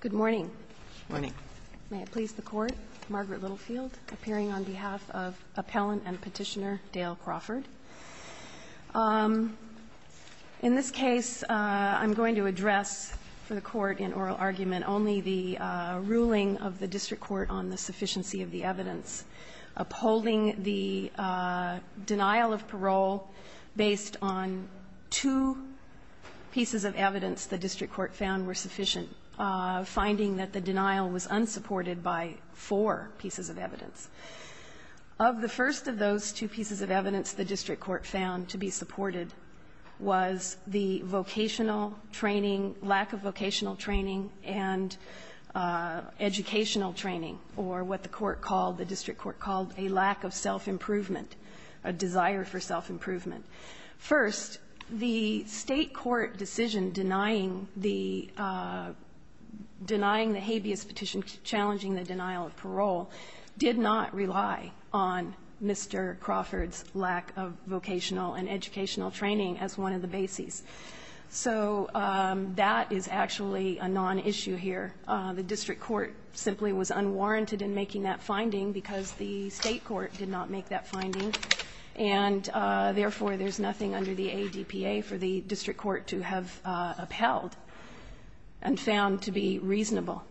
Good morning. Good morning. May it please the Court, Margaret Littlefield appearing on behalf of Appellant and Petitioner Dale Crawford. In this case, I'm going to address for the Court in oral argument only the ruling of the district court on the sufficiency of the evidence upholding the denial of parole based on two pieces of evidence the district court found were sufficient and finding that the denial was unsupported by four pieces of evidence. Of the first of those two pieces of evidence the district court found to be supported was the vocational training, lack of vocational training, and educational training, or what the court called, the district court called, a lack of self-improvement, a desire for self-improvement. First, the State court decision denying the denying the habeas petition, challenging the denial of parole, did not rely on Mr. Crawford's lack of vocational and educational training as one of the bases. So that is actually a nonissue here. The district court simply was unwarranted in making that finding because the State court did not make that finding. And, therefore, there's nothing under the ADPA for the district court to have upheld and found to be reasonable.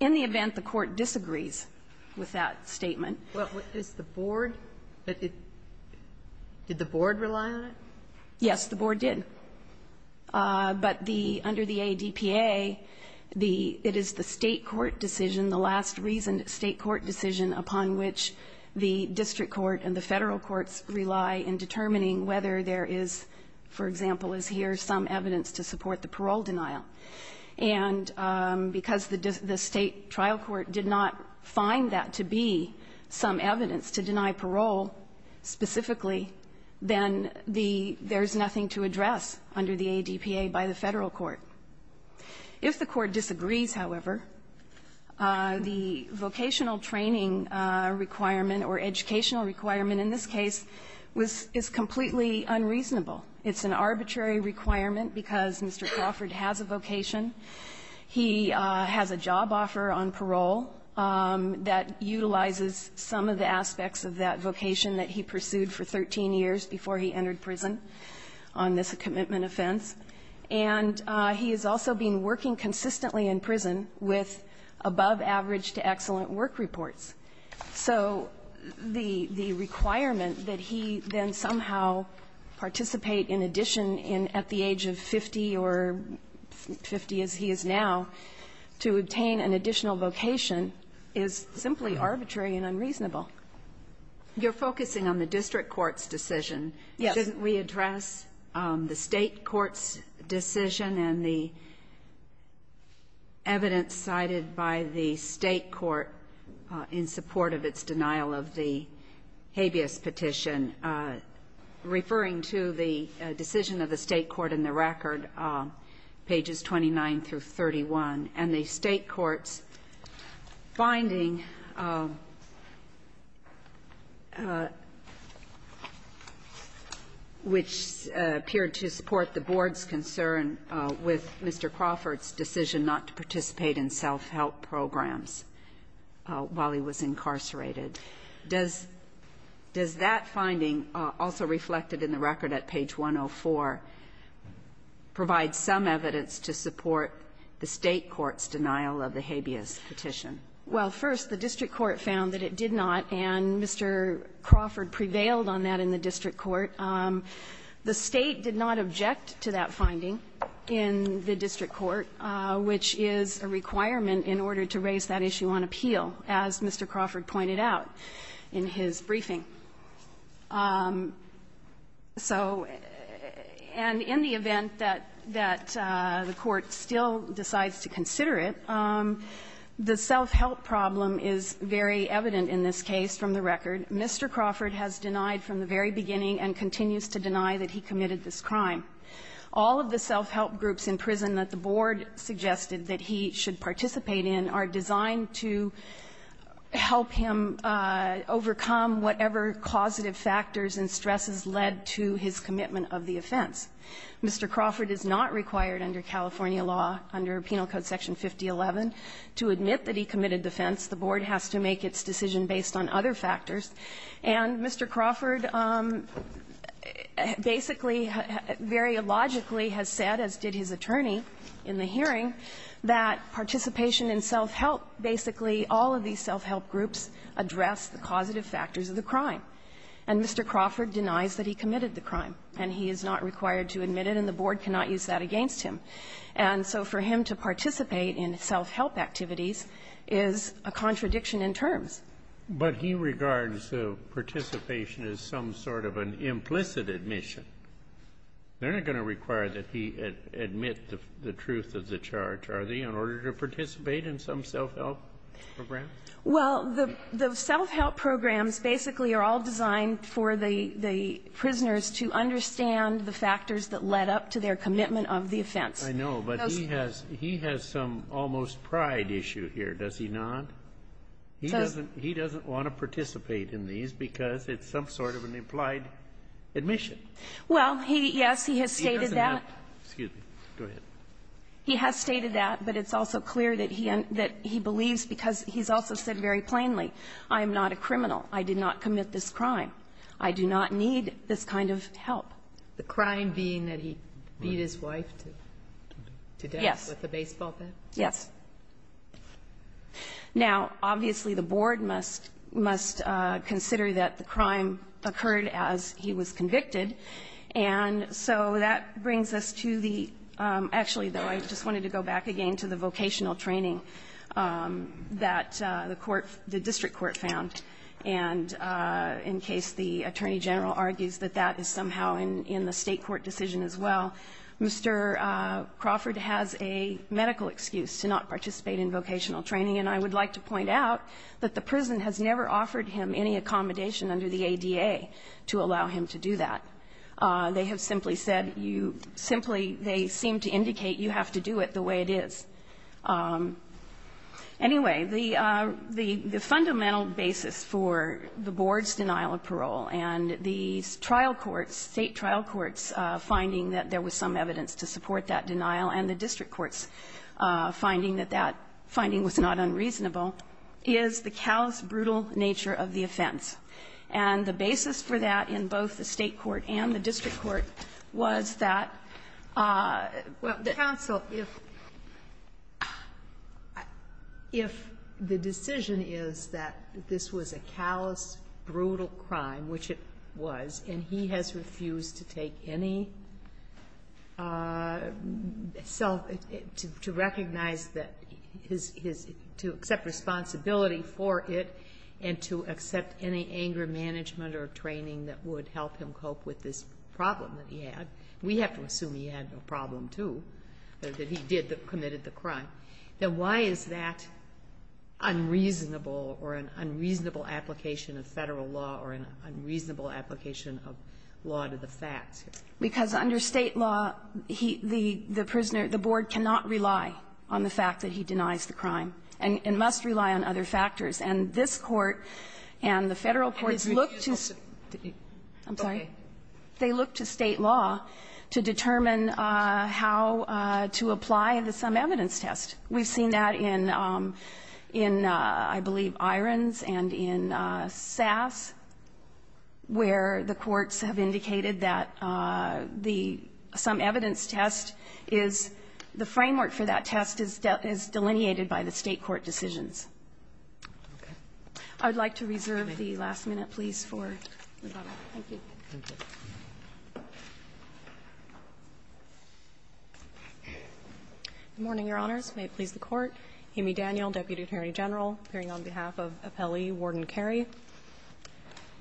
In the event the Court disagrees with that statement. Well, is the Board? Did the Board rely on it? Yes, the Board did. But the under the ADPA, it is the State court decision, the last reasoned State court decision upon which the district court and the Federal courts rely in determining whether there is, for example, as here, some evidence to support the parole denial. And because the State trial court did not find that to be some evidence to deny parole specifically, then there's nothing to address under the ADPA by the Federal court. If the Court disagrees, however, the vocational training requirement or educational requirement in this case was – is completely unreasonable. It's an arbitrary requirement because Mr. Crawford has a vocation. He has a job offer on parole that utilizes some of the aspects of that vocation that he pursued for 13 years before he entered prison on this commitment offense. And he has also been working consistently in prison with above-average-to-excellent work reports. So the requirement that he then somehow participate in addition in – at the age of 50 or 50 as he is now to obtain an additional vocation is simply arbitrary and unreasonable. You're focusing on the district court's decision. Yes. Couldn't we address the State court's decision and the evidence cited by the State court in support of its denial of the habeas petition, referring to the decision of the State court in the record, pages 29 through 31? And the State court's finding, which appeared to support the board's concern with Mr. Crawford's decision not to participate in self-help programs while he was incarcerated, does that finding, also reflected in the record at page 104, provide some evidence to support the State court's denial of the habeas petition? Well, first, the district court found that it did not, and Mr. Crawford prevailed on that in the district court. The State did not object to that finding in the district court, which is a requirement in order to raise that issue on appeal, as Mr. Crawford pointed out in his briefing. So and in the event that the court still decides to consider it, the self-help problem is very evident in this case from the record. Mr. Crawford has denied from the very beginning and continues to deny that he committed this crime. All of the self-help groups in prison that the board suggested that he should participate in are designed to help him overcome whatever causative factors and stresses led to his commitment of the offense. Mr. Crawford is not required under California law, under Penal Code Section 5011, to admit that he committed the offense. The board has to make its decision based on other factors. And Mr. Crawford basically, very logically, has said, as did his attorney in the hearing, that participation in self-help, basically all of these self-help groups address the causative factors of the crime. And Mr. Crawford denies that he committed the crime, and he is not required to admit it, and the board cannot use that against him. And so for him to participate in self-help activities is a contradiction in terms. But he regards participation as some sort of an implicit admission. They're not going to require that he admit the truth of the charge, are they, in order to participate in some self-help program? Well, the self-help programs basically are all designed for the prisoners to understand the factors that led up to their commitment of the offense. I know, but he has some almost pride issue here, does he not? He doesn't want to participate in these because it's some sort of an implied admission. Well, he, yes, he has stated that. He doesn't have to. Excuse me. Go ahead. He has stated that, but it's also clear that he believes, because he's also said very plainly, I am not a criminal. I did not commit this crime. I do not need this kind of help. The crime being that he beat his wife to death with a baseball bat? Yes. Now, obviously, the board must consider that the crime occurred as he was convicted, and so that brings us to the, actually, though, I just wanted to go back again to the vocational training that the court, the district court found, and in case the Attorney General argues that that is somehow in the State court decision as well. Mr. Crawford has a medical excuse to not participate in vocational training, and I would like to point out that the prison has never offered him any accommodation under the ADA to allow him to do that. They have simply said you simply, they seem to indicate you have to do it the way it is. Anyway, the fundamental basis for the board's denial of parole and the trial courts, State trial courts finding that there was some evidence to support that denial, and the district courts finding that that finding was not unreasonable, is the Cal's brutal nature of the offense. And the basis for that in both the State court and the district court was that the counsel, if the decision is that this was a callous, brutal crime, which it was, and he has refused to take any self, to recognize that his, to accept responsibility for it, and to accept any anger management or training that would help him cope with this problem that he had. We have to assume he had a problem, too, that he did, that committed the crime. Now, why is that unreasonable or an unreasonable application of Federal law or an unreasonable application of law to the facts? Because under State law, he, the prisoner, the board cannot rely on the fact that he denies the crime and must rely on other factors. And this Court and the Federal courts look to State law to determine how to apply the some evidence test. We've seen that in, I believe, Irons and in Sass, where the courts have indicated that the some evidence test is, the framework for that test is delineated by the State court decisions. I would like to reserve the last minute, please, for rebuttal. Thank you. Roberts. Good morning, Your Honors. May it please the Court. Amy Daniel, Deputy Attorney General, appearing on behalf of Appellee Warden Carey.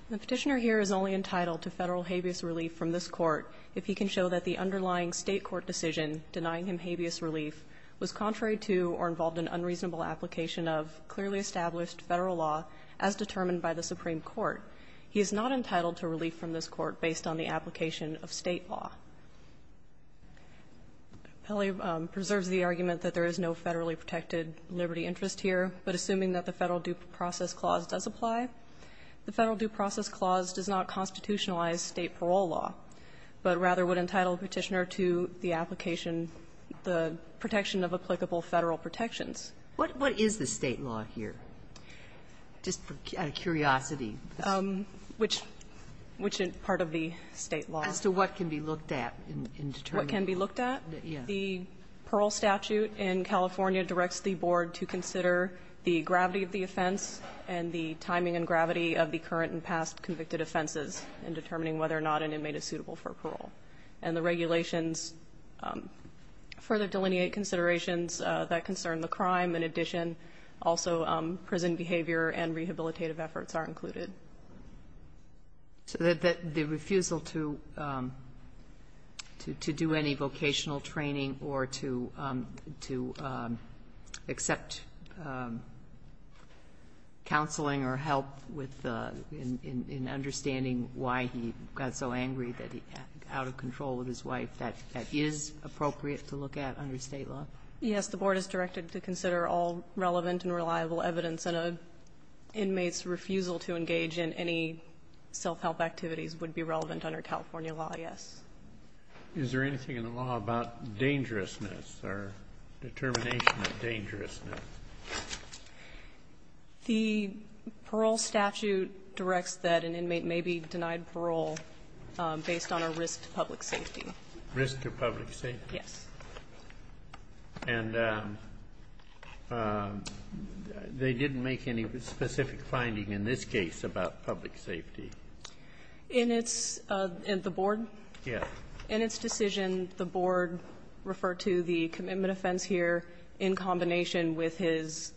The Petitioner here is only entitled to Federal habeas relief from this Court if he can show that the underlying State court decision denying him habeas relief was contrary to or involved in unreasonable application of clearly established Federal law as determined by the Supreme Court. He is not entitled to relief from this Court based on the application of State law. Appellee preserves the argument that there is no Federally protected liberty interest here, but assuming that the Federal due process clause does apply, the Federal due process clause does not constitutionalize State parole law, but rather would entitle Petitioner to the application, the protection of applicable Federal protections. What is the State law here, just out of curiosity? Which is part of the State law. As to what can be looked at in determining? What can be looked at? Yes. The parole statute in California directs the Board to consider the gravity of the offense and the timing and gravity of the current and past convicted offenses in determining whether or not an inmate is suitable for parole. And the regulations further delineate considerations that concern the crime. In addition, also prison behavior and rehabilitative efforts are included. So the refusal to do any vocational training or to accept counseling or help in understanding why he got so angry that he got out of control with his wife, that is appropriate to look at under State law? Yes. The Board is directed to consider all relevant and reliable evidence in an inmate's case. The refusal to engage in any self-help activities would be relevant under California law, yes. Is there anything in the law about dangerousness or determination of dangerousness? The parole statute directs that an inmate may be denied parole based on a risk to public safety. Risk to public safety? Yes. And they didn't make any specific finding in this case about public safety? In its the Board? Yes. In its decision, the Board referred to the commitment offense here in combination with his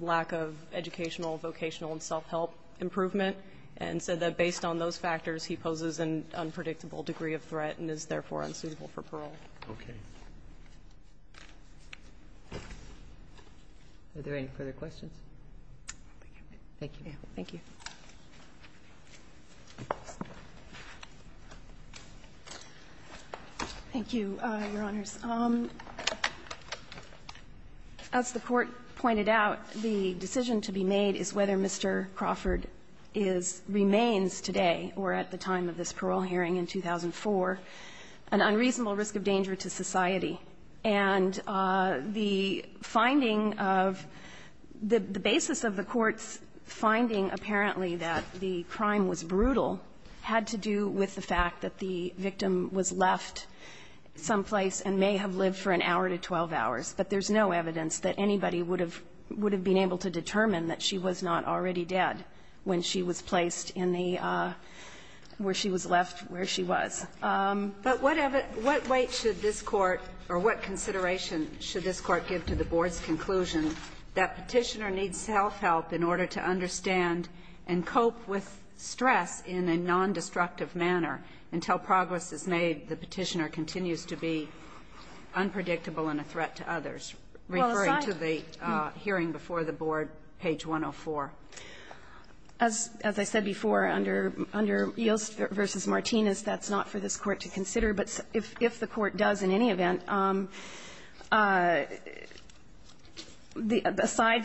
lack of educational, vocational, and self-help improvement, and said that based on those factors, he poses an unpredictable degree of threat and is therefore unsuitable for parole. Okay. Are there any further questions? Thank you. Thank you. Thank you, Your Honors. As the Court pointed out, the decision to be made is whether Mr. Crawford is or remains today or at the time of this parole hearing in 2004, an unreasonable risk of danger to society. And the finding of the basis of the Court's finding apparently that the crime was brutal had to do with the fact that the victim was left someplace and may have lived for an hour to 12 hours, but there's no evidence that anybody would have been able to determine that she was not already dead when she was placed in the where she was left where she was. But what weight should this Court or what consideration should this Court give to the Board's conclusion that Petitioner needs self-help in order to understand and cope with stress in a nondestructive manner until progress is made, the Petitioner continues to be unpredictable and a threat to others, referring to the hearing before the Board, page 104? As I said before, under Yost v. Martinez, that's not for this Court to consider. But if the Court does in any event, aside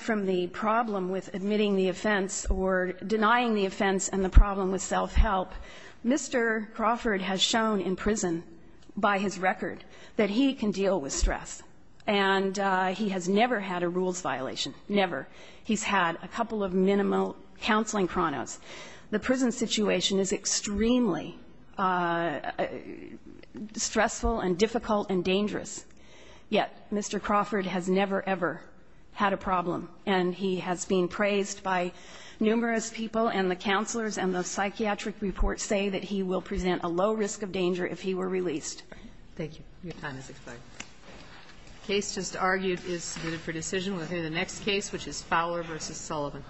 from the problem with admitting the offense or denying the offense and the problem with self-help, Mr. Crawford has shown in prison by his record that he can deal with stress, and he has never had a rules violation, never. He's had a couple of minimal counseling chronos. The prison situation is extremely stressful and difficult and dangerous, yet Mr. Crawford has never, ever had a problem, and he has been praised by numerous people, and the counselors and the psychiatric reports say that he will present a low risk of danger if he were released. Thank you. Your time has expired. The case just argued is submitted for decision. We'll hear the next case, which is Fowler v. Sullivan.